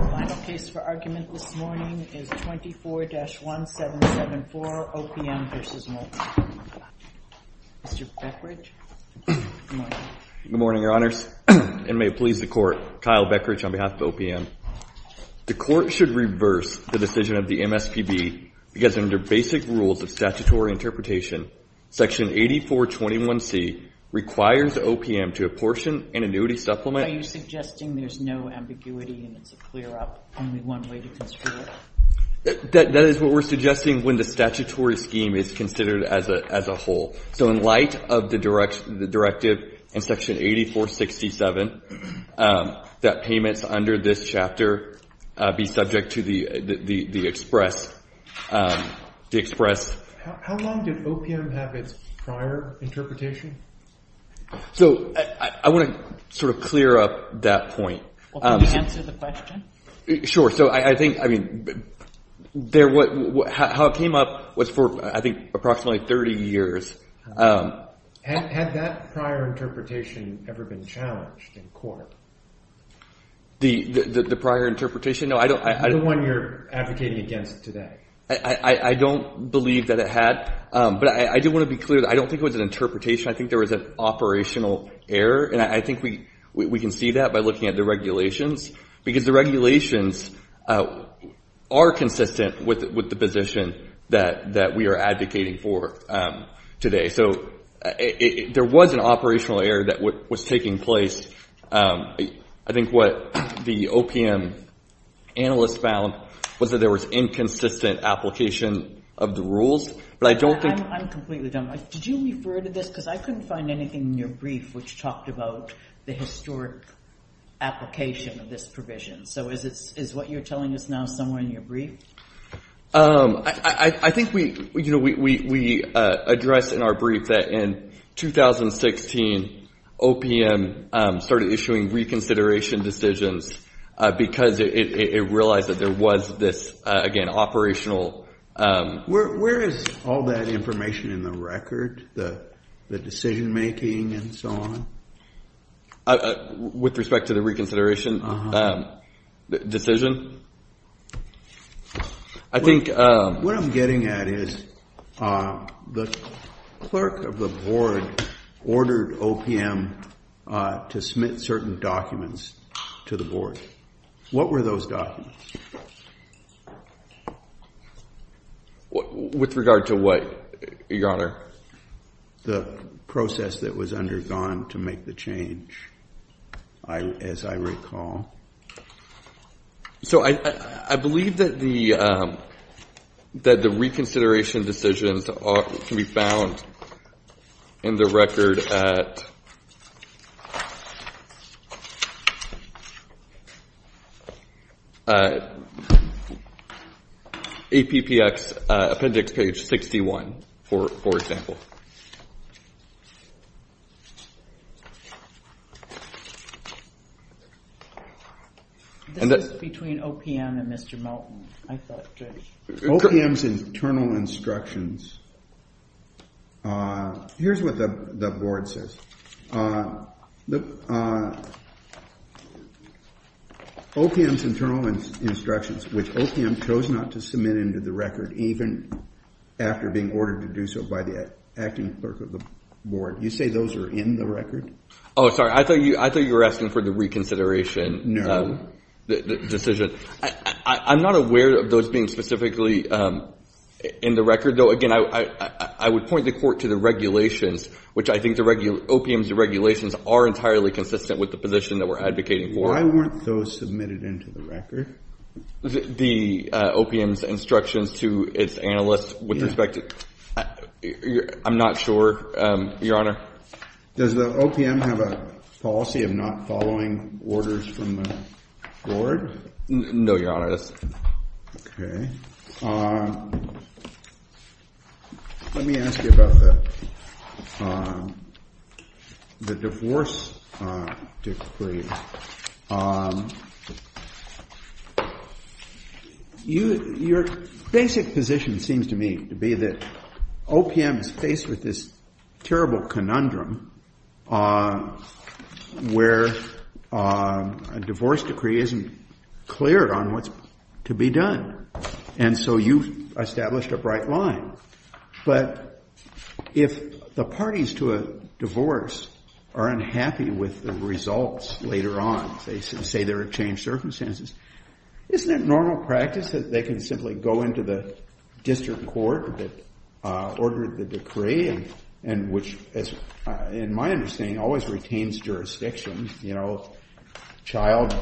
The final case for argument this morning is 24-1774, OPM v. Moulton. Mr. Beckridge, good morning. Good morning, Your Honors, and may it please the Court, Kyle Beckridge on behalf of OPM. The Court should reverse the decision of the MSPB because under basic rules of statutory interpretation, Section 8421C requires OPM to apportion an annuity supplement Are you suggesting there's no ambiguity and it's a clear-up, only one way to construe it? That is what we're suggesting when the statutory scheme is considered as a whole. So in light of the directive in Section 8467, that payments under this chapter be subject to the express How long did OPM have its prior interpretation? So I want to sort of clear up that point. Can you answer the question? Sure. So I think, I mean, how it came up was for, I think, approximately 30 years. Had that prior interpretation ever been challenged in court? The prior interpretation? No, I don't The one you're advocating against today. I don't believe that it had, but I do want to be clear. I don't think it was an interpretation. I think there was an operational error, and I think we can see that by looking at the regulations, because the regulations are consistent with the position that we are advocating for today. So there was an operational error that was taking place. I think what the OPM analysts found was that there was inconsistent application of the rules. I'm completely dumbfounded. Did you refer to this? Because I couldn't find anything in your brief which talked about the historic application of this provision. So is what you're telling us now somewhere in your brief? I think we addressed in our brief that in 2016, OPM started issuing reconsideration decisions because it realized that there was this, again, operational Where is all that information in the record, the decision making and so on? With respect to the reconsideration decision? What I'm getting at is the clerk of the board ordered OPM to submit certain documents to the board. What were those documents? With regard to what, Your Honor? The process that was undergone to make the change, as I recall. So I believe that the reconsideration decisions can be found in the record at APPX appendix page 61, for example. This is between OPM and Mr. Melton, I thought. OPM's internal instructions. Here's what the board says. OPM's internal instructions, which OPM chose not to submit into the record, even after being ordered to do so by the acting clerk of the board. You say those are in the record? Oh, sorry, I thought you were asking for the reconsideration decision. I'm not aware of those being specifically in the record, though. Again, I would point the court to the regulations, which I think OPM's regulations are entirely consistent with the position that we're advocating for. Why weren't those submitted into the record? The OPM's instructions to its analysts with respect to ‑‑ I'm not sure, Your Honor. Does the OPM have a policy of not following orders from the board? No, Your Honor, it doesn't. Okay. Let me ask you about the divorce decree. Your basic position seems to me to be that OPM is faced with this terrible conundrum where a divorce decree isn't cleared on what's to be done. And so you've established a bright line. But if the parties to a divorce are unhappy with the results later on, say there are changed circumstances, isn't it normal practice that they can simply go into the district court that ordered the decree, and which, in my understanding, always retains jurisdiction? You know, child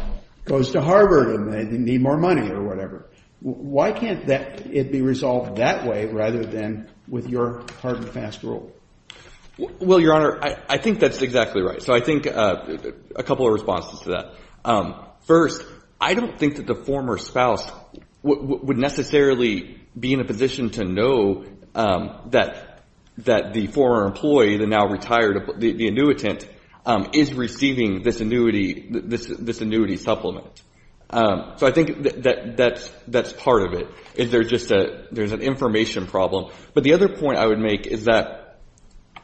goes to Harvard and they need more money or whatever. Why can't it be resolved that way rather than with your hard and fast rule? Well, Your Honor, I think that's exactly right. So I think a couple of responses to that. First, I don't think that the former spouse would necessarily be in a position to know that the former employee, the now retired ‑‑ the annuitant is receiving this annuity supplement. So I think that's part of it. There's an information problem. But the other point I would make is that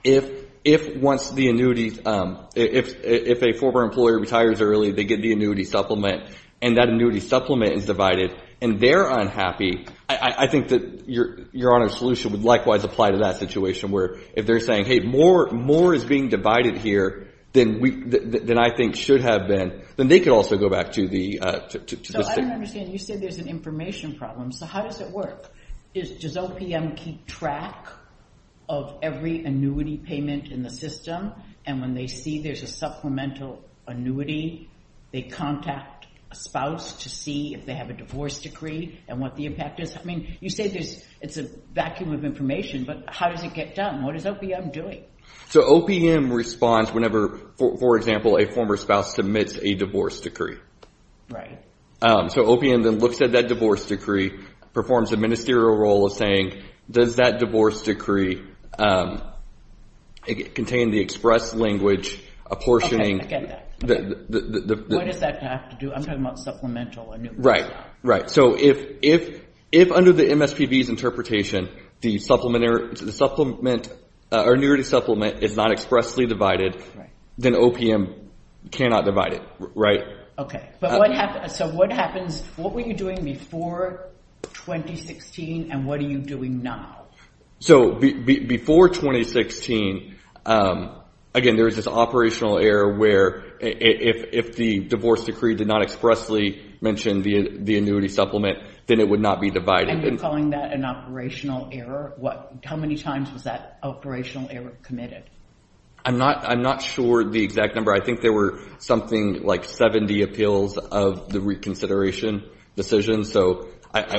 if once the annuity ‑‑ if a former employer retires early, they get the annuity supplement and that annuity supplement is divided and they're unhappy, I think that Your Honor's solution would likewise apply to that situation where if they're saying, hey, more is being divided here than I think should have been, then they could also go back to the ‑‑ So I don't understand. You said there's an information problem. So how does it work? Does OPM keep track of every annuity payment in the system? And when they see there's a supplemental annuity, they contact a spouse to see if they have a divorce decree and what the impact is? I mean, you say it's a vacuum of information, but how does it get done? What is OPM doing? So OPM responds whenever, for example, a former spouse submits a divorce decree. Right. So OPM then looks at that divorce decree, performs a ministerial role of saying, does that divorce decree contain the express language apportioning ‑‑ Okay, I get that. What does that have to do? I'm talking about supplemental annuities. Right, right. So if under the MSPB's interpretation, the supplement or annuity supplement is not expressly divided, then OPM cannot divide it, right? Okay. So what were you doing before 2016 and what are you doing now? So before 2016, again, there was this operational error where if the divorce decree did not expressly mention the annuity supplement, then it would not be divided. And you're calling that an operational error? How many times was that operational error committed? I'm not sure the exact number. I think there were something like 70 appeals of the reconsideration decision, so at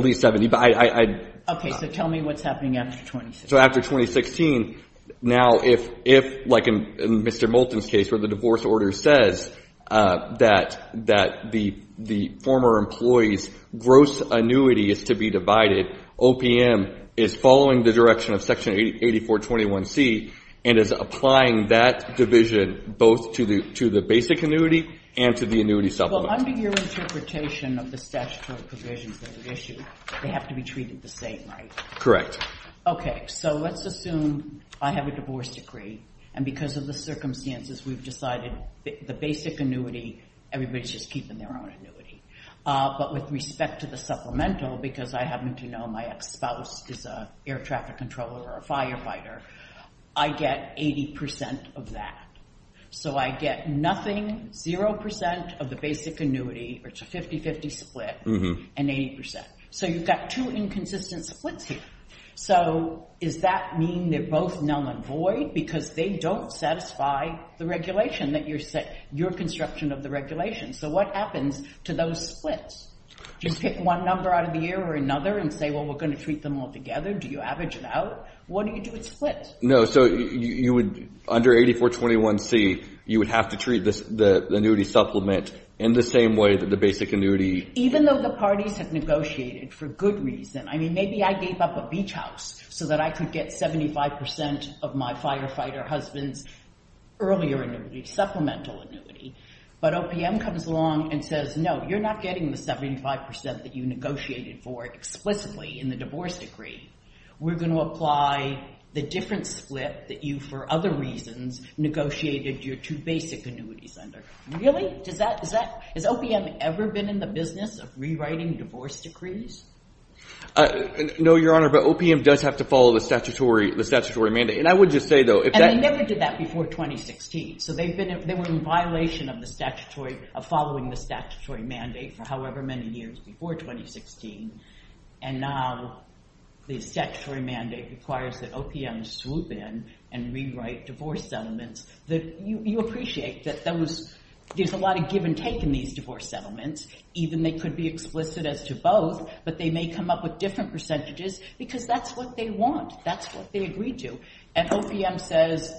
least 70. Okay, so tell me what's happening after 2016. Now if, like in Mr. Moulton's case where the divorce order says that the former employee's gross annuity is to be divided, OPM is following the direction of Section 8421C and is applying that division both to the basic annuity and to the annuity supplement. Well, under your interpretation of the statutory provisions that are issued, they have to be treated the same, right? Correct. Okay, so let's assume I have a divorce decree, and because of the circumstances, we've decided the basic annuity, everybody's just keeping their own annuity. But with respect to the supplemental, because I happen to know my ex-spouse is an air traffic controller or a firefighter, I get 80% of that. So I get nothing, 0% of the basic annuity, or it's a 50-50 split, and 80%. So you've got two inconsistent splits here. So does that mean they're both numb and void because they don't satisfy the regulation that you're constructing of the regulation? So what happens to those splits? Do you pick one number out of the air or another and say, well, we're going to treat them all together? Do you average it out? What do you do with splits? No, so under 8421C, you would have to treat the annuity supplement in the same way that the basic annuity— even though the parties have negotiated for good reason. I mean, maybe I gave up a beach house so that I could get 75% of my firefighter husband's earlier annuity, supplemental annuity. But OPM comes along and says, no, you're not getting the 75% that you negotiated for explicitly in the divorce decree. We're going to apply the different split that you, for other reasons, negotiated your two basic annuities under. Really? Has OPM ever been in the business of rewriting divorce decrees? No, Your Honor, but OPM does have to follow the statutory mandate. And I would just say, though— And they never did that before 2016. So they were in violation of the statutory—of following the statutory mandate for however many years before 2016. And now the statutory mandate requires that OPM swoop in and rewrite divorce settlements. You appreciate that there's a lot of give and take in these divorce settlements. Even they could be explicit as to both, but they may come up with different percentages because that's what they want. That's what they agreed to. And OPM says,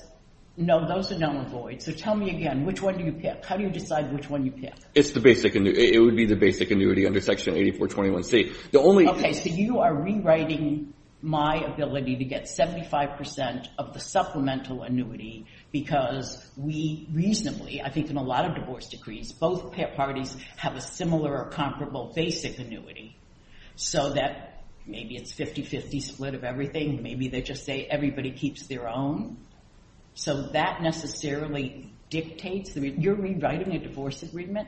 no, those are null and void. So tell me again, which one do you pick? How do you decide which one you pick? It's the basic—it would be the basic annuity under Section 8421C. Okay, so you are rewriting my ability to get 75 percent of the supplemental annuity because we reasonably, I think in a lot of divorce decrees, both parties have a similar or comparable basic annuity. So that maybe it's 50-50 split of everything. Maybe they just say everybody keeps their own. So that necessarily dictates—you're rewriting a divorce agreement?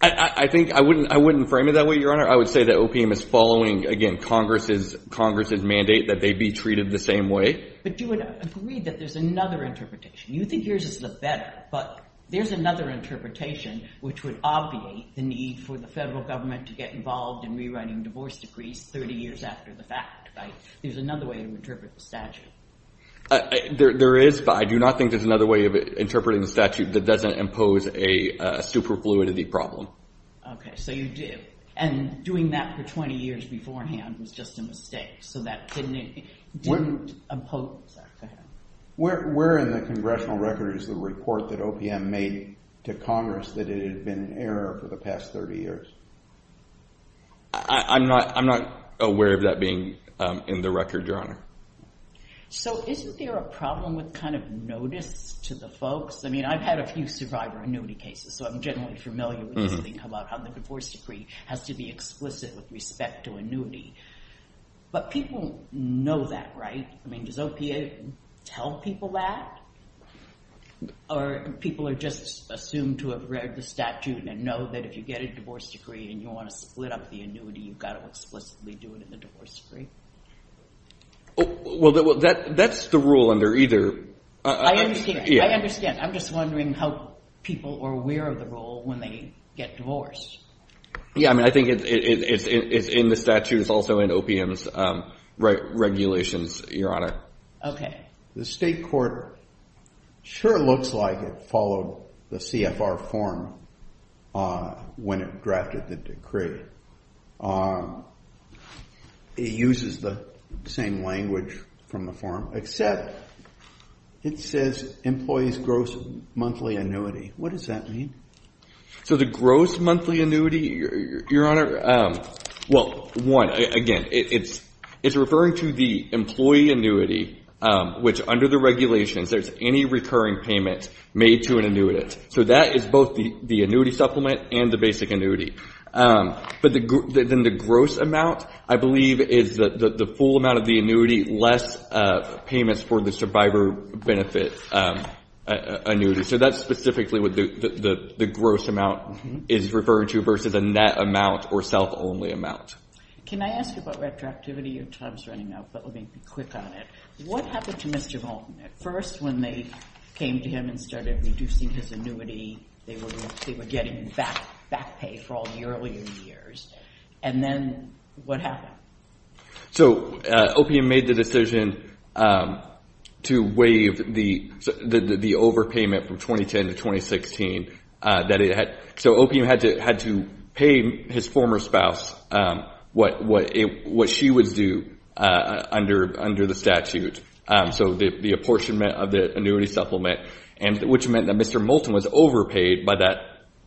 I think—I wouldn't frame it that way, Your Honor. I would say that OPM is following, again, Congress's mandate that they be treated the same way. But you would agree that there's another interpretation. You think yours is the better, but there's another interpretation which would obviate the need for the federal government to get involved in rewriting divorce decrees 30 years after the fact, right? There's another way to interpret the statute. There is, but I do not think there's another way of interpreting the statute that doesn't impose a superfluidity problem. Okay, so you do. And doing that for 20 years beforehand was just a mistake, so that didn't impose that. Where in the congressional record is the report that OPM made to Congress that it had been an error for the past 30 years? I'm not aware of that being in the record, Your Honor. So isn't there a problem with kind of notice to the folks? I mean I've had a few survivor annuity cases, so I'm generally familiar with this thing about how the divorce decree has to be explicit with respect to annuity. But people know that, right? I mean does OPA tell people that? Or people are just assumed to have read the statute and know that if you get a divorce decree and you want to split up the annuity, you've got to explicitly do it in the divorce decree? Well, that's the rule under either. I understand. I'm just wondering how people are aware of the rule when they get divorced. Yeah, I mean I think it's in the statute. It's also in OPM's regulations, Your Honor. Okay. The state court sure looks like it followed the CFR form when it drafted the decree. It uses the same language from the form, except it says employee's gross monthly annuity. What does that mean? So the gross monthly annuity, Your Honor, well, one, again, it's referring to the employee annuity, which under the regulations there's any recurring payment made to an annuitant. So that is both the annuity supplement and the basic annuity. But then the gross amount, I believe, is the full amount of the annuity, less payments for the survivor benefit annuity. So that's specifically what the gross amount is referring to versus a net amount or self-only amount. Can I ask you about retroactivity? Your time is running out, but let me be quick on it. What happened to Mr. Moulton at first when they came to him and started reducing his annuity? They were getting back pay for all the earlier years. And then what happened? So OPM made the decision to waive the overpayment from 2010 to 2016. So OPM had to pay his former spouse what she would do under the statute, so the apportionment of the annuity supplement, which meant that Mr. Moulton was overpaid by that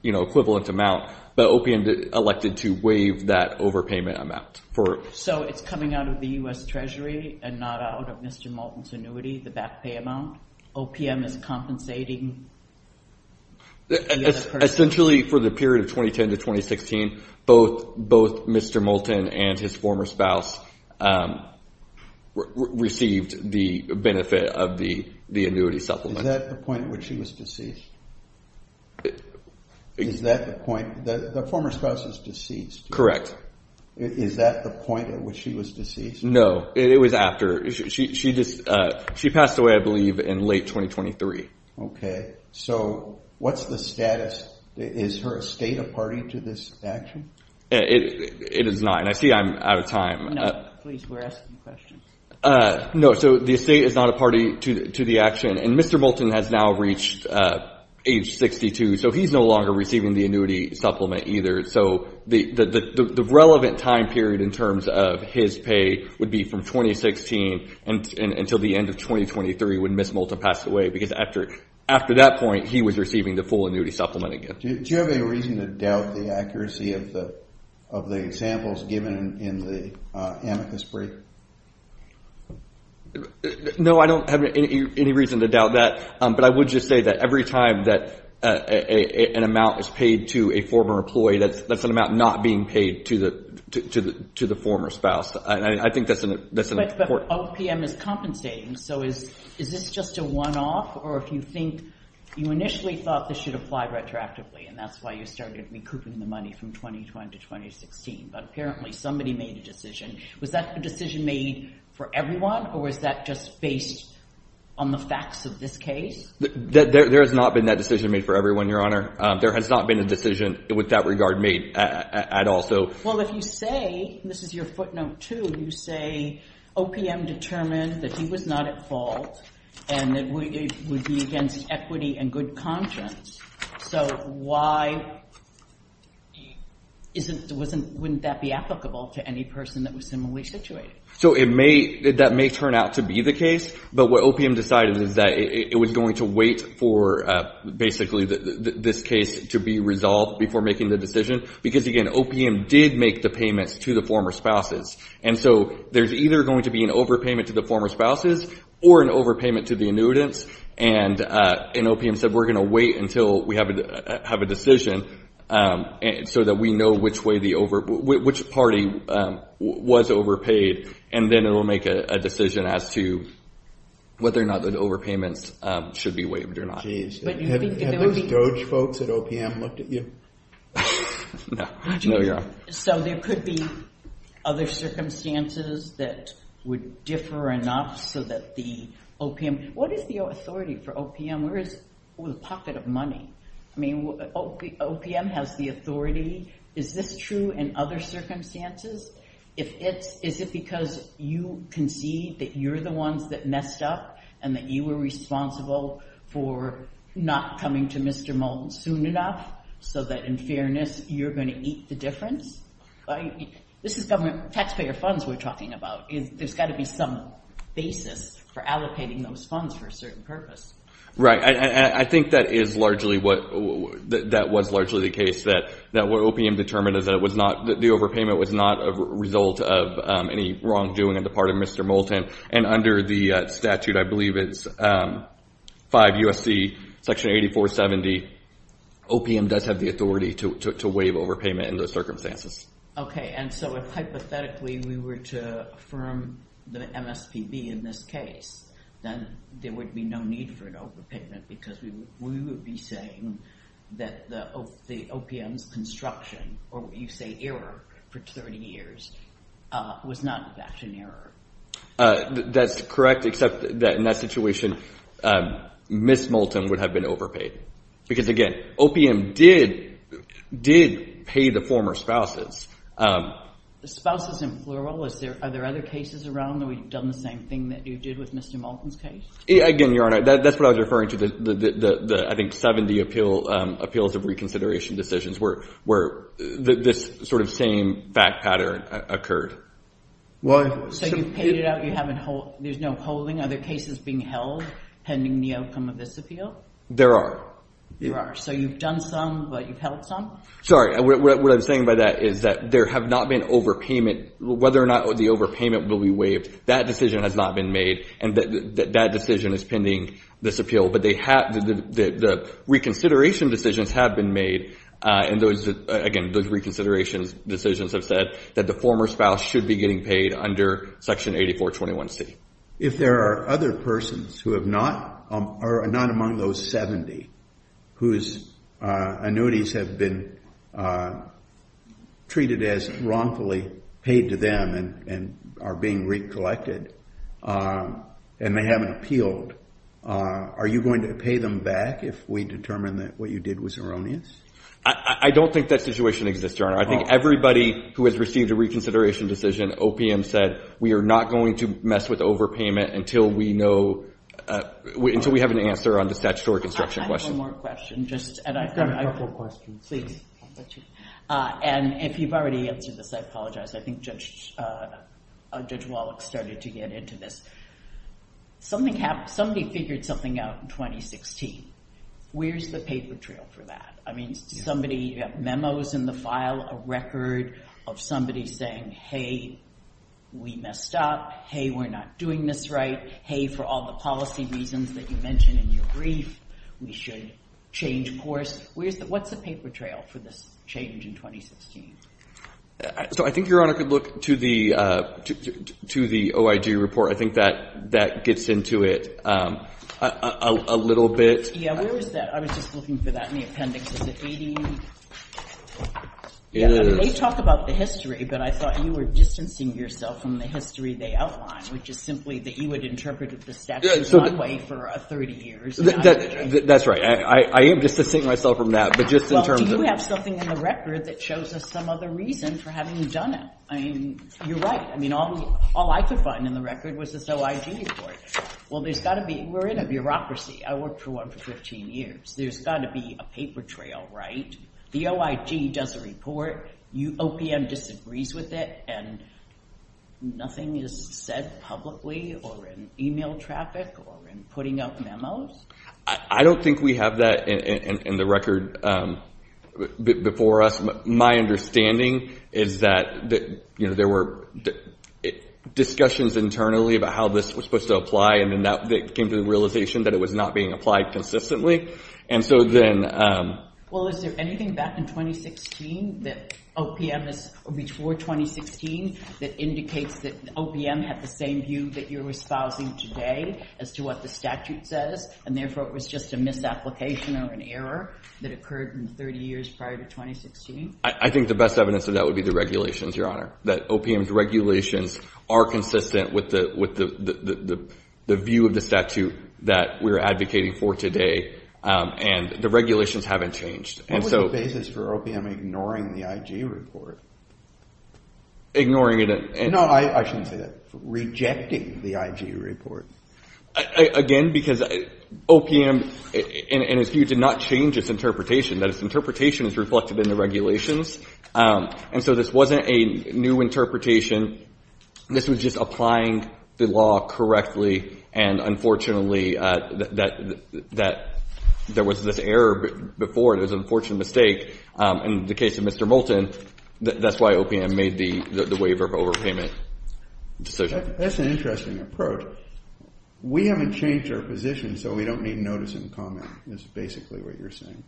equivalent amount, but OPM elected to waive that overpayment amount. So it's coming out of the U.S. Treasury and not out of Mr. Moulton's annuity, the back pay amount? OPM is compensating? Essentially for the period of 2010 to 2016, both Mr. Moulton and his former spouse received the benefit of the annuity supplement. Is that the point at which she was deceased? Is that the point? The former spouse is deceased. Correct. Is that the point at which she was deceased? No, it was after. She passed away, I believe, in late 2023. Okay. So what's the status? Is her estate a party to this action? It is not, and I see I'm out of time. No, please, we're asking questions. No, so the estate is not a party to the action, and Mr. Moulton has now reached age 62, so he's no longer receiving the annuity supplement either. So the relevant time period in terms of his pay would be from 2016 until the end of 2023 when Ms. Moulton passed away, because after that point, he was receiving the full annuity supplement again. Do you have any reason to doubt the accuracy of the examples given in the amicus brief? No, I don't have any reason to doubt that, but I would just say that every time that an amount is paid to a former employee, that's an amount not being paid to the former spouse, and I think that's important. But OPM is compensating, so is this just a one-off? Or if you think you initially thought this should apply retroactively, and that's why you started recouping the money from 2020 to 2016, but apparently somebody made a decision. Was that a decision made for everyone, or was that just based on the facts of this case? There has not been that decision made for everyone, Your Honor. There has not been a decision with that regard made at all. Well, if you say, and this is your footnote too, you say OPM determined that he was not at fault and that it would be against equity and good conscience, so why wouldn't that be applicable to any person that was similarly situated? So that may turn out to be the case, but what OPM decided is that it was going to wait for basically this case to be resolved before making the decision because, again, OPM did make the payments to the former spouses, and so there's either going to be an overpayment to the former spouses or an overpayment to the annuitants, and OPM said we're going to wait until we have a decision so that we know which party was overpaid, and then it will make a decision as to whether or not the overpayments should be waived or not. Have those Doge folks at OPM looked at you? No, Your Honor. So there could be other circumstances that would differ enough so that the OPM— I mean, what is the authority for OPM? Where is the pocket of money? I mean, OPM has the authority. Is this true in other circumstances? Is it because you concede that you're the ones that messed up and that you were responsible for not coming to Mr. Moulton soon enough so that, in fairness, you're going to eat the difference? This is government taxpayer funds we're talking about. There's got to be some basis for allocating those funds for a certain purpose. Right, and I think that was largely the case, that what OPM determined is that the overpayment was not a result of any wrongdoing on the part of Mr. Moulton, and under the statute, I believe it's 5 U.S.C. section 8470, OPM does have the authority to waive overpayment in those circumstances. Okay, and so if hypothetically we were to affirm the MSPB in this case, then there would be no need for an overpayment because we would be saying that the OPM's construction, or what you say error for 30 years, was not in fact an error. That's correct, except that in that situation, Ms. Moulton would have been overpaid because, again, OPM did pay the former spouses. Spouses in plural, are there other cases around where we've done the same thing that you did with Mr. Moulton's case? Again, Your Honor, that's what I was referring to, the, I think, 70 appeals of reconsideration decisions where this sort of same fact pattern occurred. So you've paid it out, there's no holding, are there cases being held pending the outcome of this appeal? There are. There are, so you've done some, but you've held some? Sorry, what I'm saying by that is that there have not been overpayment, whether or not the overpayment will be waived, that decision has not been made, and that decision is pending this appeal, but the reconsideration decisions have been made, and those, again, those reconsideration decisions have said that the former spouse should be getting paid under section 8421C. If there are other persons who have not, or not among those 70, whose annuities have been treated as wrongfully paid to them and are being recollected, and they haven't appealed, are you going to pay them back if we determine that what you did was erroneous? I don't think that situation exists, Your Honor. I think everybody who has received a reconsideration decision, OPM said we are not going to mess with overpayment until we know, until we have an answer on the statutory construction question. I have one more question. You've got a couple of questions. And if you've already answered this, I apologize. I think Judge Wallach started to get into this. Somebody figured something out in 2016. Where's the paper trail for that? I mean, you have memos in the file, a record of somebody saying, hey, we messed up. Hey, we're not doing this right. Hey, for all the policy reasons that you mentioned in your brief, we should change course. What's the paper trail for this change in 2016? So I think Your Honor could look to the OIG report. I think that gets into it a little bit. Yeah, where is that? I was just looking for that in the appendix. Is it 18? It is. They talk about the history, but I thought you were distancing yourself from the history they outlined, which is simply that you had interpreted the statute one way for 30 years. That's right. I am distancing myself from that. Well, do you have something in the record that shows us some other reason for having done it? I mean, you're right. I mean, all I could find in the record was this OIG report. Well, there's got to be. We're in a bureaucracy. I worked for one for 15 years. There's got to be a paper trail, right? The OIG does a report, OPM disagrees with it, and nothing is said publicly or in e-mail traffic or in putting out memos? I don't think we have that in the record before us. My understanding is that there were discussions internally about how this was supposed to apply, and then that came to the realization that it was not being applied consistently. Well, is there anything back in 2016, before 2016, that indicates that OPM had the same view that you're espousing today as to what the statute says, and therefore it was just a misapplication or an error that occurred in 30 years prior to 2016? I think the best evidence of that would be the regulations, Your Honor, that OPM's regulations are consistent with the view of the statute that we're advocating for today, and the regulations haven't changed. What was the basis for OPM ignoring the IG report? Ignoring it? No, I shouldn't say that. Rejecting the IG report. Again, because OPM, in its view, did not change its interpretation, that its interpretation is reflected in the regulations, and so this wasn't a new interpretation. This was just applying the law correctly, and unfortunately there was this error before. It was an unfortunate mistake. In the case of Mr. Moulton, that's why OPM made the waiver of overpayment decision. That's an interesting approach. We haven't changed our position, so we don't need notice and comment, is basically what you're saying.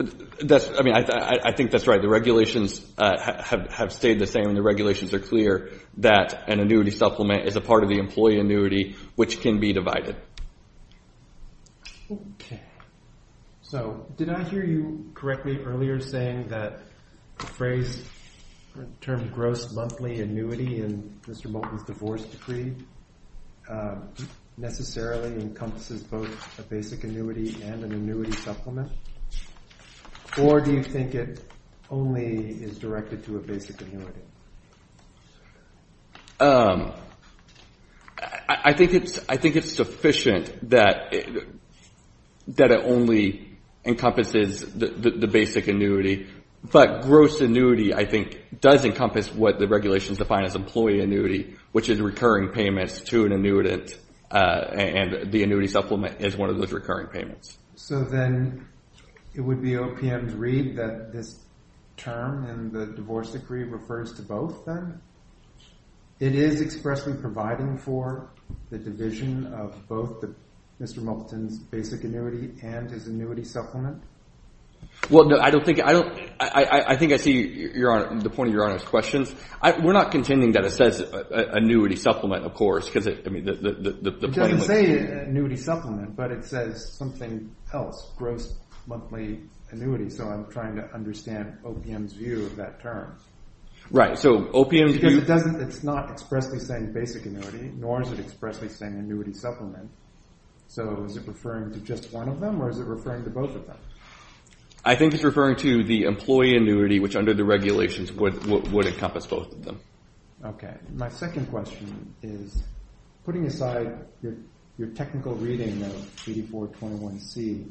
I mean, I think that's right. The regulations have stayed the same, and the regulations are clear that an annuity supplement is a part of the employee annuity, which can be divided. Okay. So did I hear you correctly earlier saying that the phrase termed gross monthly annuity in Mr. Moulton's divorce decree necessarily encompasses both a basic annuity and an annuity supplement, or do you think it only is directed to a basic annuity? I think it's sufficient that it only encompasses the basic annuity, but gross annuity, I think, does encompass what the regulations define as employee annuity, which is recurring payments to an annuitant, and the annuity supplement is one of those recurring payments. So then it would be OPM's read that this term in the divorce decree refers to both then? It is expressly providing for the division of both Mr. Moulton's basic annuity and his annuity supplement? Well, no, I think I see the point of Your Honor's questions. We're not contending that it says annuity supplement, of course. It doesn't say annuity supplement, but it says something else, gross monthly annuity, so I'm trying to understand OPM's view of that term. Right. Because it's not expressly saying basic annuity, nor is it expressly saying annuity supplement. So is it referring to just one of them, or is it referring to both of them? I think it's referring to the employee annuity, which under the regulations would encompass both of them. Okay. My second question is, putting aside your technical reading of 8421C,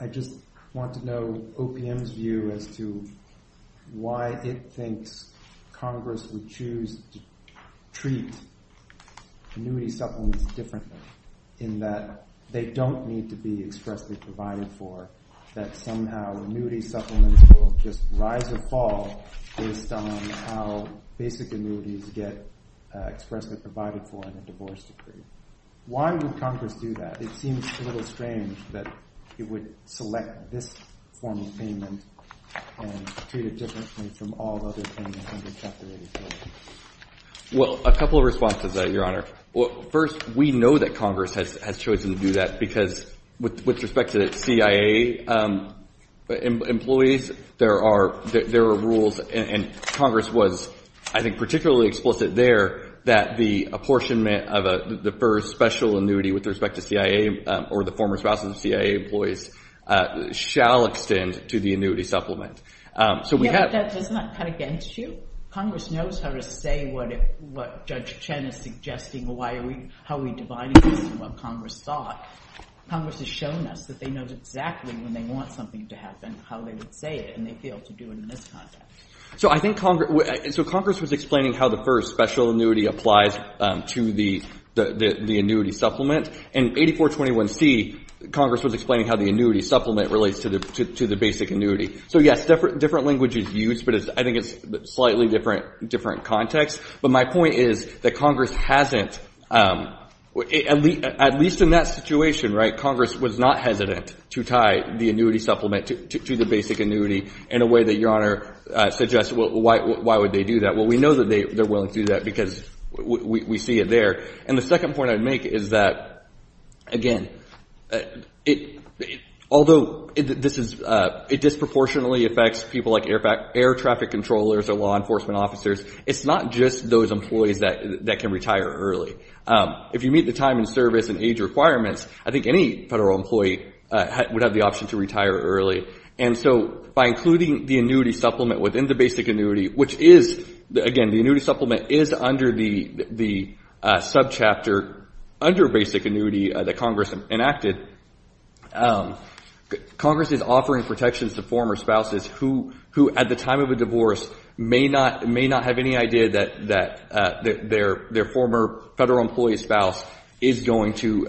I just want to know OPM's view as to why it thinks Congress would choose to treat annuity supplements differently, in that they don't need to be expressly provided for, that somehow annuity supplements will just rise or fall based on how basic annuities get expressly provided for in a divorce decree. Why would Congress do that? It seems a little strange that it would select this form of payment and treat it differently from all the other payments under Chapter 84. Well, a couple of responses there, Your Honor. First, we know that Congress has chosen to do that because with respect to the CIA employees, there are rules, and Congress was, I think, particularly explicit there, that the apportionment of the first special annuity with respect to CIA or the former spouses of CIA employees shall extend to the annuity supplement. Yeah, but that does not cut against you. If Congress knows how to say what Judge Chen is suggesting, how are we dividing this from what Congress thought, Congress has shown us that they know exactly when they want something to happen, how they would say it, and they'd be able to do it in this context. So I think Congress was explaining how the first special annuity applies to the annuity supplement, and 8421C, Congress was explaining how the annuity supplement relates to the basic annuity. So, yes, different language is used, but I think it's a slightly different context. But my point is that Congress hasn't, at least in that situation, right, Congress was not hesitant to tie the annuity supplement to the basic annuity in a way that Your Honor suggested. Why would they do that? Well, we know that they're willing to do that because we see it there. And the second point I'd make is that, again, although it disproportionately affects people like air traffic controllers or law enforcement officers, it's not just those employees that can retire early. If you meet the time and service and age requirements, I think any federal employee would have the option to retire early. And so by including the annuity supplement within the basic annuity, which is, again, the annuity supplement is under the subchapter under basic annuity that Congress enacted, Congress is offering protections to former spouses who, at the time of a divorce, may not have any idea that their former federal employee spouse is going to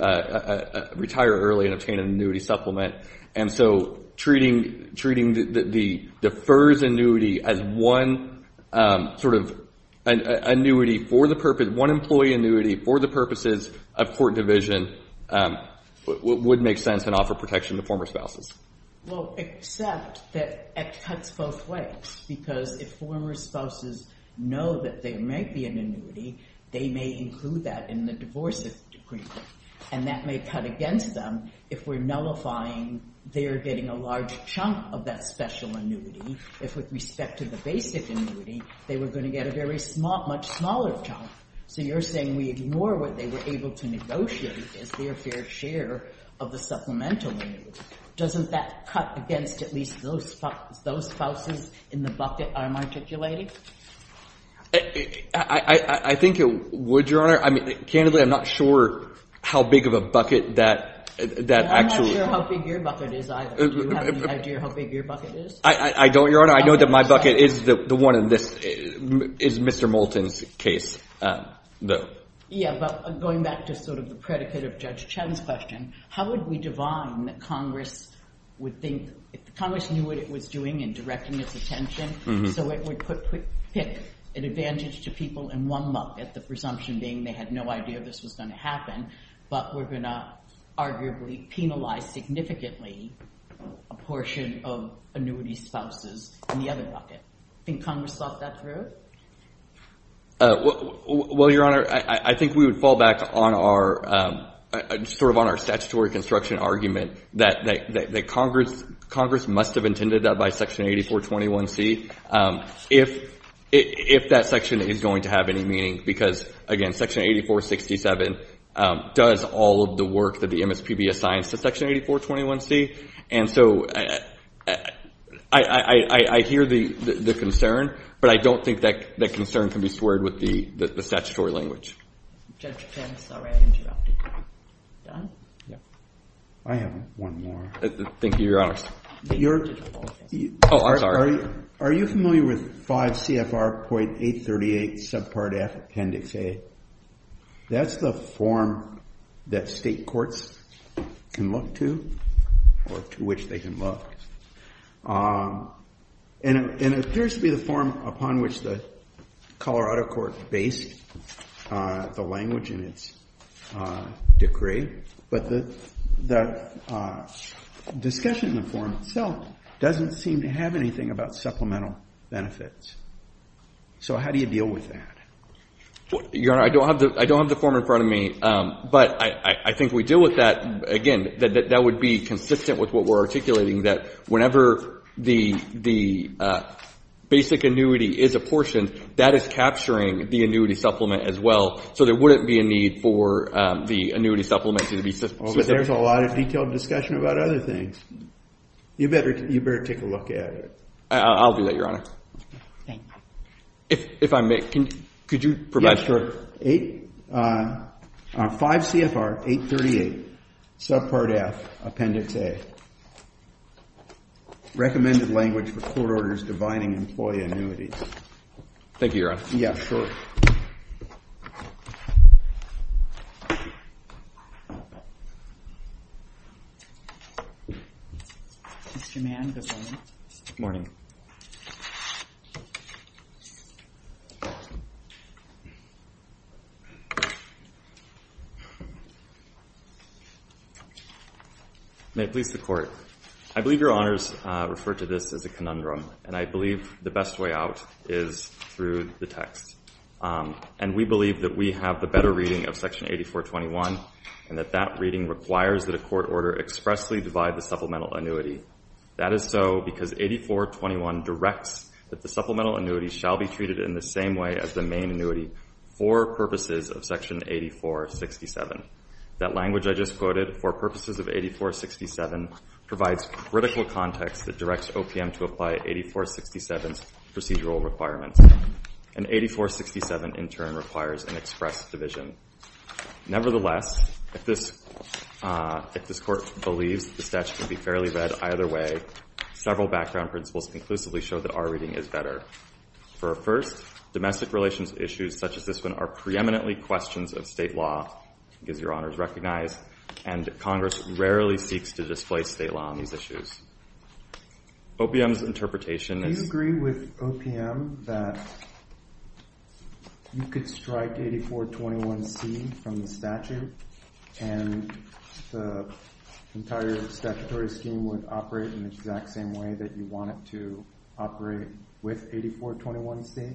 retire early and obtain an annuity supplement. And so treating the FERS annuity as one sort of annuity for the purpose, one employee annuity for the purposes of court division would make sense and offer protection to former spouses. Well, except that it cuts both ways because if former spouses know that there may be an annuity, they may include that in the divorce decree. And that may cut against them if we're nullifying they're getting a large chunk of that special annuity. If with respect to the basic annuity, they were going to get a very much smaller chunk. So you're saying we ignore what they were able to negotiate as their fair share of the supplemental annuity. Doesn't that cut against at least those spouses in the bucket I'm articulating? I think it would, Your Honor. I mean, candidly, I'm not sure how big of a bucket that actually. I'm not sure how big your bucket is either. Do you have any idea how big your bucket is? I don't, Your Honor. I know that my bucket is the one in this, is Mr. Moulton's case, though. Yeah, but going back to sort of the predicate of Judge Chen's question, how would we divine that Congress would think, if Congress knew what it was doing in directing its attention, so it would pick an advantage to people in one bucket, the presumption being they had no idea this was going to happen, but we're going to arguably penalize significantly a portion of annuity spouses in the other bucket? Think Congress thought that through? Well, Your Honor, I think we would fall back on our statutory construction argument that Congress must have intended that by Section 8421C if that section is going to have any meaning, because, again, Section 8467 does all of the work that the MSPB assigns to Section 8421C. And so I hear the concern, but I don't think that concern can be squared with the statutory language. Judge Chen, sorry I interrupted you. I have one more. Thank you, Your Honor. Oh, I'm sorry. Are you familiar with 5 CFR.838, subpart F, Appendix A? That's the form that state courts can look to, or to which they can look. And it appears to be the form upon which the Colorado court based the language in its decree, but the discussion in the form itself doesn't seem to have anything about supplemental benefits. So how do you deal with that? Your Honor, I don't have the form in front of me, but I think we deal with that. Again, that would be consistent with what we're articulating, that whenever the basic annuity is apportioned, that is capturing the annuity supplement as well, so there wouldn't be a need for the annuity supplement to be supplemented. But there's a lot of detailed discussion about other things. You better take a look at it. I'll do that, Your Honor. Thank you. If I may, could you provide? Yes, sure. 5 CFR 838, subpart F, Appendix A. Recommended language for court orders dividing employee annuities. Thank you, Your Honor. Yeah, sure. Mr. Mann, good morning. Good morning. May it please the Court. I believe Your Honors referred to this as a conundrum, and I believe the best way out is through the text. And we believe that we have the better reading of Section 8421 and that that reading requires that a court order expressly divide the supplemental annuity. That is so because 8421 directs that the supplemental annuity shall be treated in the same way as the main annuity for purposes of Section 8467. That language I just quoted, for purposes of 8467, provides critical context that directs OPM to apply 8467's procedural requirements. And 8467 in turn requires an express division. Nevertheless, if this Court believes the statute can be fairly read either way, several background principles conclusively show that our reading is better. For a first, domestic relations issues such as this one are preeminently questions of state law, as Your Honors recognize, and Congress rarely seeks to displace state law on these issues. OPM's interpretation is Do you agree with OPM that you could strike 8421C from the statute and the entire statutory scheme would operate in the exact same way that you want it to operate with 8421C?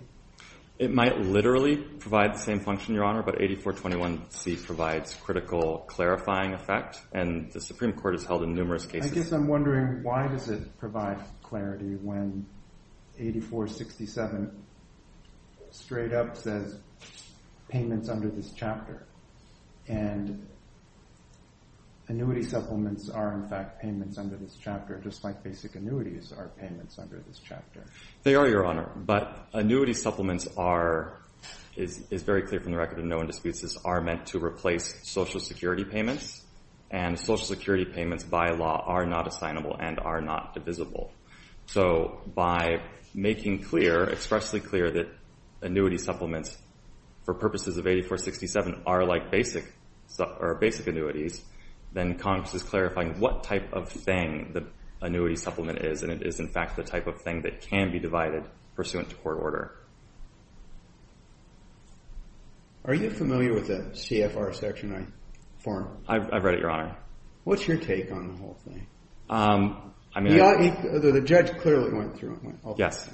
It might literally provide the same function, Your Honor, but 8421C provides critical clarifying effect, and the Supreme Court has held in numerous cases I guess I'm wondering why does it provide clarity when 8467 straight up says payments under this chapter, and annuity supplements are in fact payments under this chapter, just like basic annuities are payments under this chapter. They are, Your Honor, but annuity supplements are, is very clear from the record, and no one disputes this, are meant to replace Social Security payments, and Social Security payments by law are not assignable and are not divisible. So by making clear, expressly clear that annuity supplements for purposes of 8467 are like basic annuities, then Congress is clarifying what type of thing the annuity supplement is, and it is in fact the type of thing that can be divided pursuant to court order. Are you familiar with the CFR section I formed? I've read it, Your Honor. What's your take on the whole thing? The judge clearly went through it. Yes.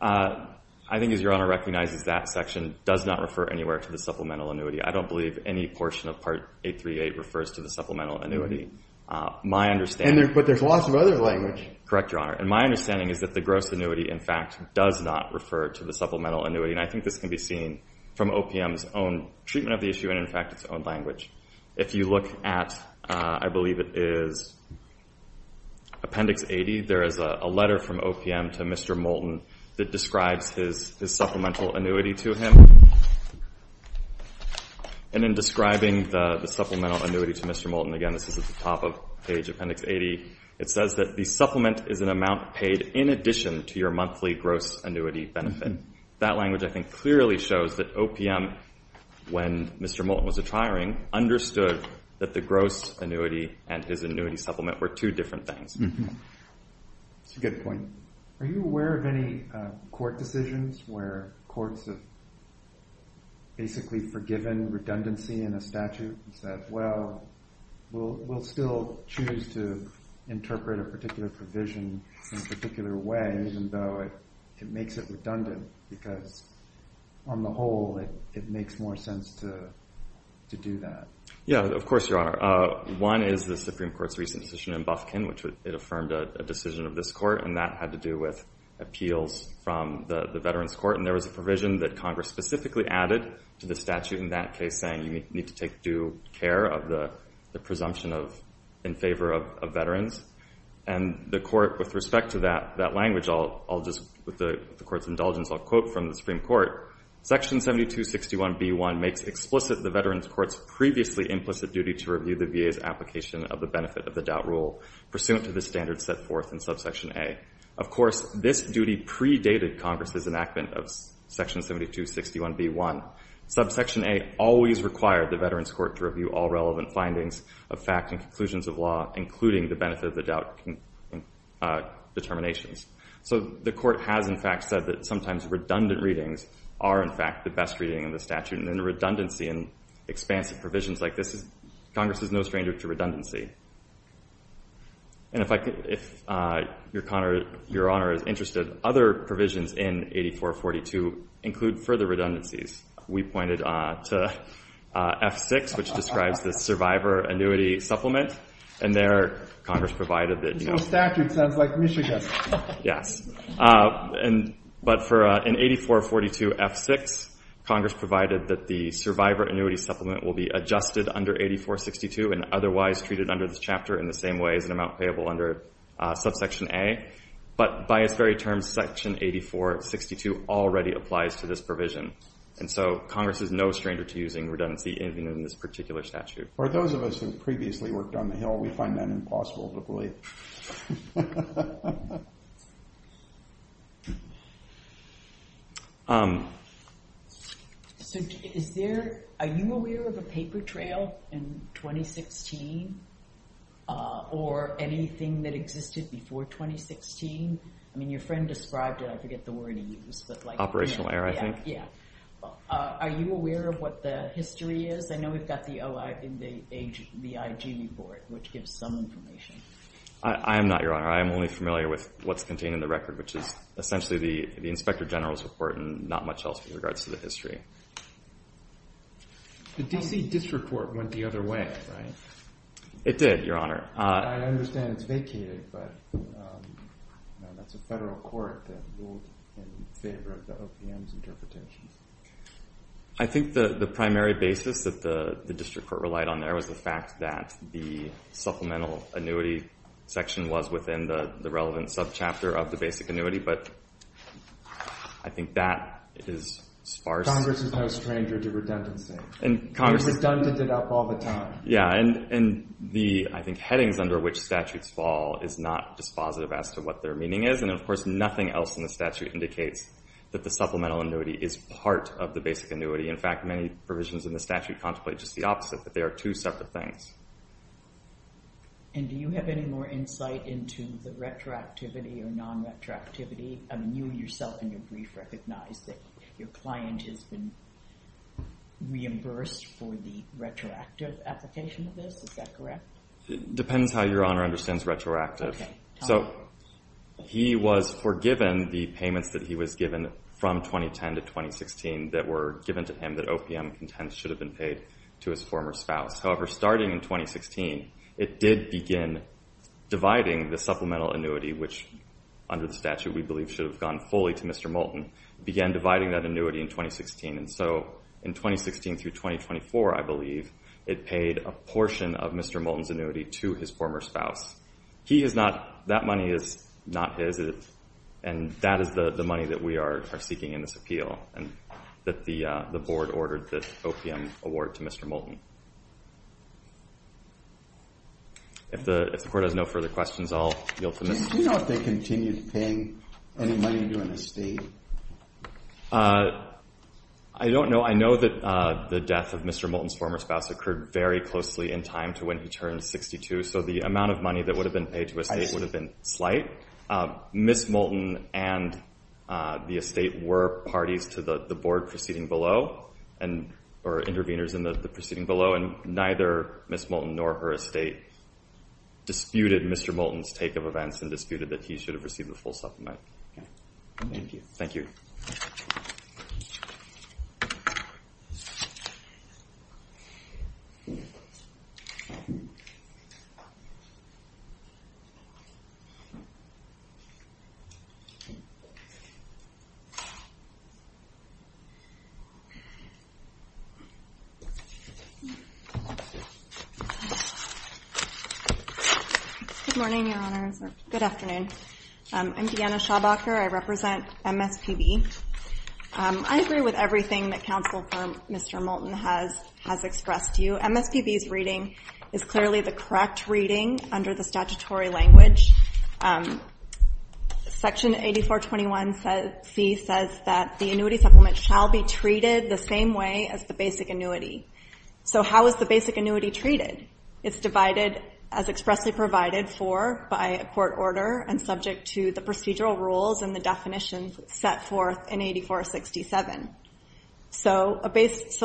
I think as Your Honor recognizes that section does not refer anywhere to the supplemental annuity. I don't believe any portion of Part 838 refers to the supplemental annuity. But there's lots of other language. Correct, Your Honor, and my understanding is that the gross annuity, in fact, does not refer to the supplemental annuity, and I think this can be seen from OPM's own treatment of the issue and, in fact, its own language. If you look at, I believe it is Appendix 80, there is a letter from OPM to Mr. Moulton that describes his supplemental annuity to him. And in describing the supplemental annuity to Mr. Moulton, again, this is at the top of page Appendix 80, it says that the supplement is an amount paid in addition to your monthly gross annuity benefit. That language, I think, clearly shows that OPM, when Mr. Moulton was retiring, understood that the gross annuity and his annuity supplement were two different things. That's a good point. Are you aware of any court decisions where courts have basically forgiven redundancy in a statute and said, well, we'll still choose to interpret a particular provision in a particular way, even though it makes it redundant because, on the whole, it makes more sense to do that? Yeah, of course, Your Honor. One is the Supreme Court's recent decision in Bufkin, which it affirmed a decision of this court, and that had to do with appeals from the Veterans Court, and there was a provision that Congress specifically added to the statute in that case, saying you need to take due care of the presumption in favor of veterans. And the court, with respect to that language, I'll just, with the Court's indulgence, I'll quote from the Supreme Court. Section 7261B1 makes explicit the Veterans Court's previously implicit duty to review the VA's application of the benefit of the doubt rule pursuant to the standards set forth in Subsection A. Of course, this duty predated Congress's enactment of Section 7261B1. Subsection A always required the Veterans Court to review all relevant findings of fact and conclusions of law, including the benefit of the doubt determinations. So the court has, in fact, said that sometimes redundant readings are, in fact, the best reading in the statute. And in redundancy and expansive provisions like this, Congress is no stranger to redundancy. And if your Honor is interested, other provisions in 8442 include further redundancies. We pointed to F6, which describes the survivor annuity supplement, and there Congress provided that, you know. This whole statute sounds like Michigan. Yes. But in 8442F6, Congress provided that the survivor annuity supplement will be adjusted under 8462 and otherwise treated under this chapter in the same way as an amount payable under Subsection A. But by its very terms, Section 8462 already applies to this provision. And so Congress is no stranger to using redundancy in this particular statute. For those of us who have previously worked on the Hill, we find that impossible to believe. So are you aware of a paper trail in 2016 or anything that existed before 2016? I mean, your friend described it. I forget the word he used. Operational error, I think. Yeah. Are you aware of what the history is? Because I know we've got the OIG report, which gives some information. I am not, your Honor. I am only familiar with what's contained in the record, which is essentially the Inspector General's report and not much else with regards to the history. The D.C. District Court went the other way, right? It did, your Honor. I understand it's vacated, but that's a federal court that ruled in favor of the OPM's interpretation. I think the primary basis that the District Court relied on there was the fact that the supplemental annuity section was within the relevant subchapter of the basic annuity. But I think that is sparse. Congress is no stranger to redundancy. Congress has done it all the time. Yeah. And the, I think, headings under which statutes fall is not dispositive as to what their meaning is. And, of course, nothing else in the statute indicates that the supplemental annuity is part of the basic annuity. In fact, many provisions in the statute contemplate just the opposite, that they are two separate things. And do you have any more insight into the retroactivity or non-retroactivity? I mean, you yourself in your brief recognized that your client has been reimbursed for the retroactive application of this. Is that correct? It depends how your Honor understands retroactive. Okay. So he was forgiven the payments that he was given from 2010 to 2016 that were given to him that OPM contends should have been paid to his former spouse. However, starting in 2016, it did begin dividing the supplemental annuity, which under the statute we believe should have gone fully to Mr. Moulton, began dividing that annuity in 2016. And so in 2016 through 2024, I believe, it paid a portion of Mr. Moulton's annuity to his former spouse. That money is not his, and that is the money that we are seeking in this appeal that the Board ordered the OPM award to Mr. Moulton. If the Court has no further questions, I'll yield to Mr. Moulton. Do you know if they continued paying any money to an estate? I don't know. I know that the death of Mr. Moulton's former spouse occurred very closely in time to when he turned 62, so the amount of money that would have been paid to an estate would have been slight. Ms. Moulton and the estate were parties to the Board proceeding below or intervenors in the proceeding below, and neither Ms. Moulton nor her estate disputed Mr. Moulton's take of events and disputed that he should have received the full supplement. Thank you. Thank you. Good morning, Your Honors, or good afternoon. I'm Deanna Schaubacher. I represent MSPB. I agree with everything that counsel for Mr. Moulton has expressed to you. MSPB's reading is clearly the correct reading under the statutory language. Section 8421c says that the annuity supplement shall be treated the same way as the basic annuity. So how is the basic annuity treated? It's divided as expressly provided for by a court order and subject to the procedural rules and the definitions set forth in 8467. So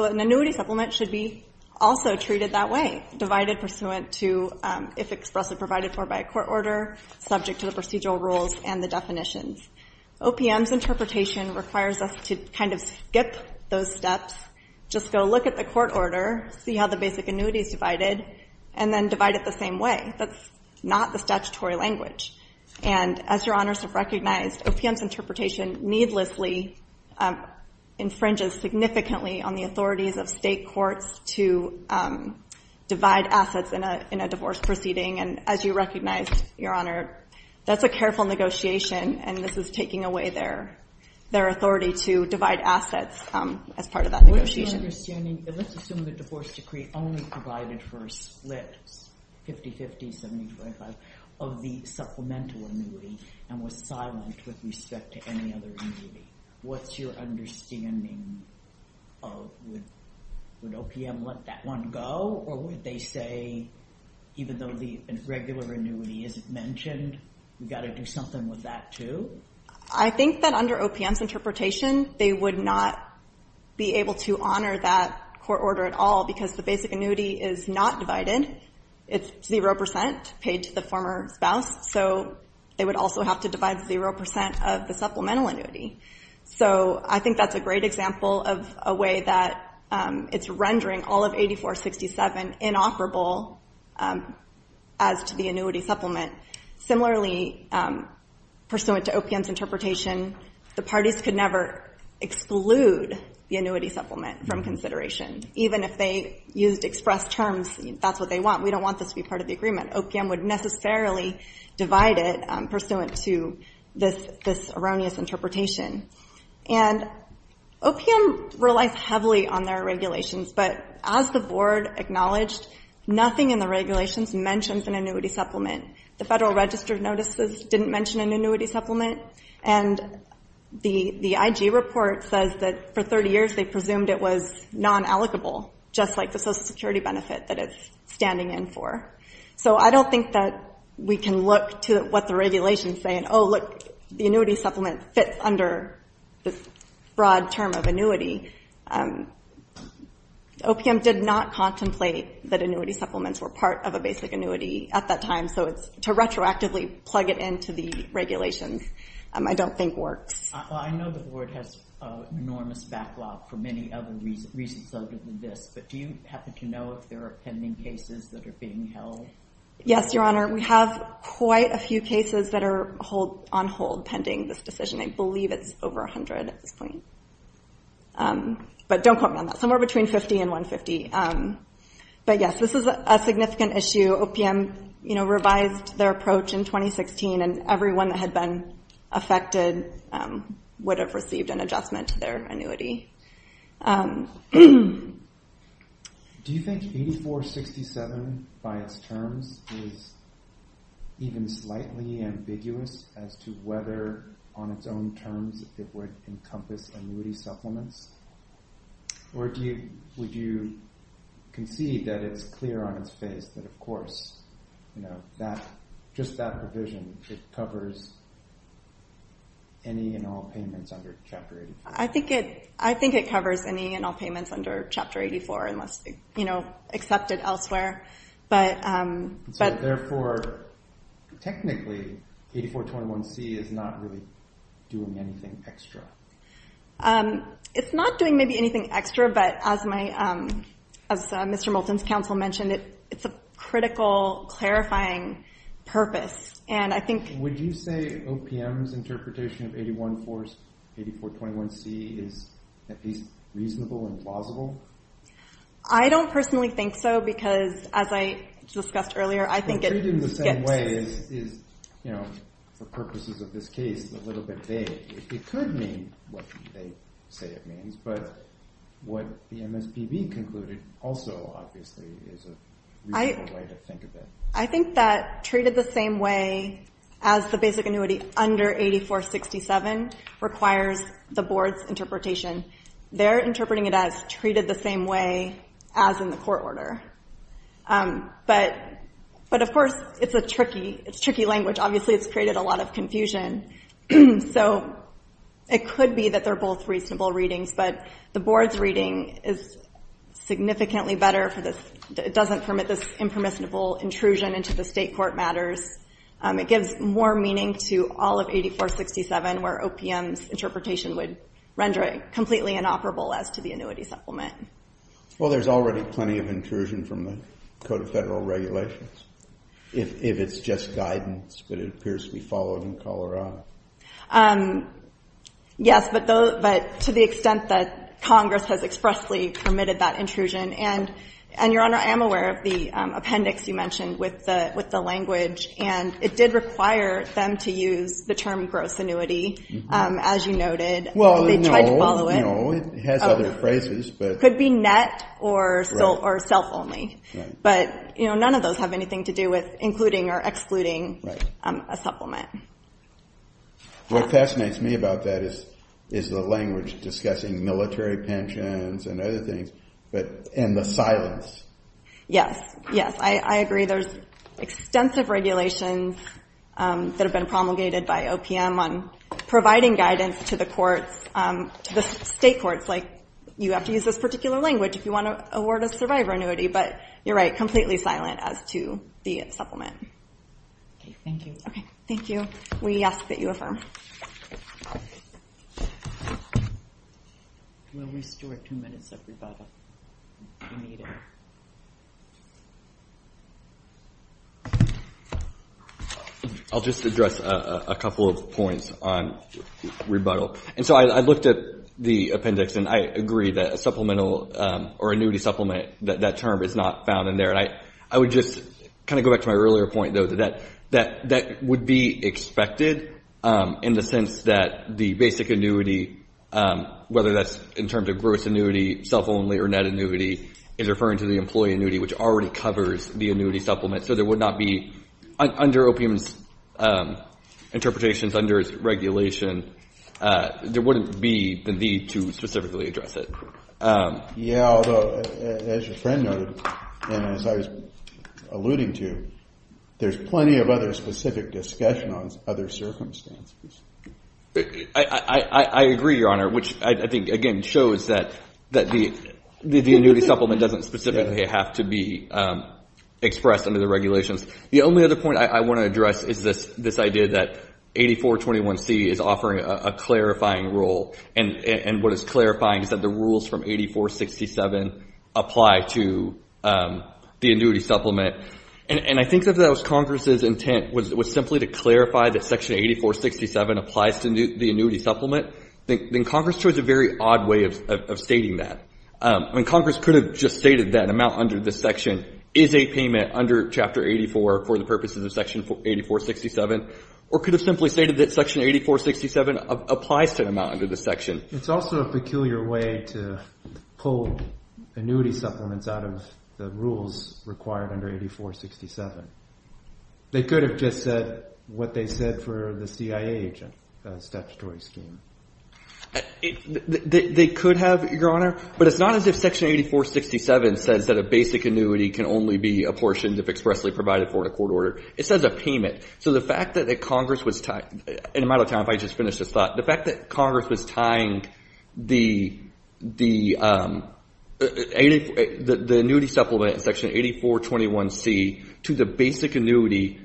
an annuity supplement should be also treated that way, divided pursuant to if expressly provided for by a court order, subject to the procedural rules and the definitions. OPM's interpretation requires us to kind of skip those steps, just go look at the court order, see how the basic annuity is divided, and then divide it the same way. That's not the statutory language. And as Your Honors have recognized, OPM's interpretation needlessly infringes significantly on the authorities of state courts to divide assets in a divorce proceeding. And as you recognized, Your Honor, that's a careful negotiation, and this is taking away their authority to divide assets as part of that negotiation. What's your understanding? Let's assume the divorce decree only provided for a split, 50-50, 70-25, of the supplemental annuity and was silent with respect to any other annuity. What's your understanding of would OPM let that one go, or would they say even though the regular annuity isn't mentioned, we've got to do something with that too? I think that under OPM's interpretation, they would not be able to honor that court order at all because the basic annuity is not divided. It's 0% paid to the former spouse, so they would also have to divide 0% of the supplemental annuity. So I think that's a great example of a way that it's rendering all of 8467 inoperable as to the annuity supplement. Similarly, pursuant to OPM's interpretation, the parties could never exclude the annuity supplement from consideration. Even if they used express terms, that's what they want. We don't want this to be part of the agreement. OPM would necessarily divide it pursuant to this erroneous interpretation. And OPM relies heavily on their regulations, but as the board acknowledged, nothing in the regulations mentions an annuity supplement. The Federal Register of Notices didn't mention an annuity supplement, and the IG report says that for 30 years they presumed it was non-allocable, just like the Social Security benefit that it's standing in for. So I don't think that we can look to what the regulations say and, oh, look, the annuity supplement fits under this broad term of annuity. OPM did not contemplate that annuity supplements were part of a basic annuity at that time, so to retroactively plug it into the regulations I don't think works. I know the board has an enormous backlog for many other reasons other than this, but do you happen to know if there are pending cases that are being held? Yes, Your Honor. We have quite a few cases that are on hold pending this decision. I believe it's over 100 at this point. But don't quote me on that. Somewhere between 50 and 150. But, yes, this is a significant issue. OPM revised their approach in 2016, and everyone that had been affected would have received an adjustment to their annuity. Do you think 8467 by its terms is even slightly ambiguous as to whether on its own terms it would encompass annuity supplements? Or would you concede that it's clear on its face that, of course, just that provision, it covers any and all payments under Chapter 84? I think it covers any and all payments under Chapter 84 unless accepted elsewhere. So, therefore, technically 8421C is not really doing anything extra? It's not doing maybe anything extra, but as Mr. Moulton's counsel mentioned, it's a critical clarifying purpose. Would you say OPM's interpretation of 8421C is at least reasonable and plausible? I don't personally think so because, as I discussed earlier, I think it gets— Well, treated in the same way is, for purposes of this case, a little bit vague. It could mean what they say it means, but what the MSPB concluded also obviously is a reasonable way to think of it. I think that treated the same way as the basic annuity under 8467 requires the Board's interpretation. They're interpreting it as treated the same way as in the court order. But, of course, it's a tricky language. Obviously, it's created a lot of confusion. So it could be that they're both reasonable readings, but the Board's reading is significantly better for this. It doesn't permit this impermissible intrusion into the State court matters. It gives more meaning to all of 8467 where OPM's interpretation would render it completely inoperable as to the annuity supplement. Well, there's already plenty of intrusion from the Code of Federal Regulations if it's just guidance, but it appears to be followed in Colorado. Yes, but to the extent that Congress has expressly permitted that intrusion. And, Your Honor, I am aware of the appendix you mentioned with the language, and it did require them to use the term gross annuity, as you noted. Well, no. They tried to follow it. No, it has other phrases. It could be net or self-only. But none of those have anything to do with including or excluding a supplement. What fascinates me about that is the language discussing military pensions and other things and the silence. Yes, yes, I agree. There's extensive regulations that have been promulgated by OPM on providing guidance to the courts, to the State courts, like you have to use this particular language if you want to award a survivor annuity. But you're right, completely silent as to the supplement. Okay, thank you. Okay, thank you. We ask that you affirm. We'll restore two minutes of rebuttal if you need it. I'll just address a couple of points on rebuttal. And so I looked at the appendix, and I agree that a supplemental or annuity supplement, that term is not found in there. And I would just kind of go back to my earlier point, though, that that would be expected in the sense that the basic annuity, whether that's in terms of gross annuity, self-only, or net annuity, is referring to the employee annuity, which already covers the annuity supplement. So there would not be, under OPM's interpretations, under its regulation, there wouldn't be the need to specifically address it. Yeah, although, as your friend noted, and as I was alluding to, there's plenty of other specific discussion on other circumstances. I agree, Your Honor, which I think, again, shows that the annuity supplement doesn't specifically have to be expressed under the regulations. The only other point I want to address is this idea that 8421C is offering a clarifying rule. And what is clarifying is that the rules from 8467 apply to the annuity supplement. And I think if that was Congress's intent, was simply to clarify that Section 8467 applies to the annuity supplement, then Congress chose a very odd way of stating that. I mean, Congress could have just stated that an amount under this section is a payment under Chapter 84 for the purposes of Section 8467, or could have simply stated that Section 8467 applies to an amount under this section. It's also a peculiar way to pull annuity supplements out of the rules required under 8467. They could have just said what they said for the CIA agent statutory scheme. They could have, Your Honor. But it's not as if Section 8467 says that a basic annuity can only be apportioned if expressly provided for in a court order. It says a payment. So the fact that Congress was – in a matter of time, if I just finish this thought – the fact that Congress was tying the annuity supplement in Section 8421C to the basic annuity,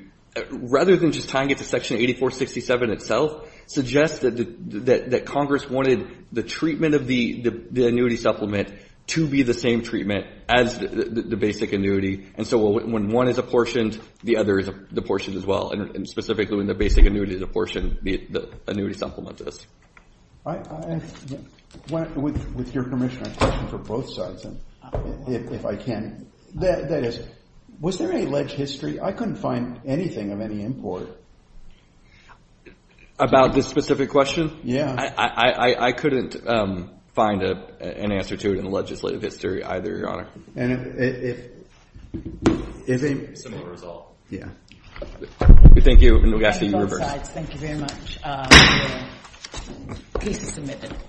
rather than just tying it to Section 8467 itself, suggests that Congress wanted the treatment of the annuity supplement to be the same treatment as the basic annuity. And so when one is apportioned, the other is apportioned as well, and specifically when the basic annuity is apportioned, the annuity supplement is. With your permission, I have a question for both sides, if I can. That is, was there any leg history? I couldn't find anything of any import. About this specific question? Yeah. I couldn't find an answer to it in the legislative history either, Your Honor. Similar result. Thank you, and we ask that you reverse. Both sides, thank you very much. The case is submitted.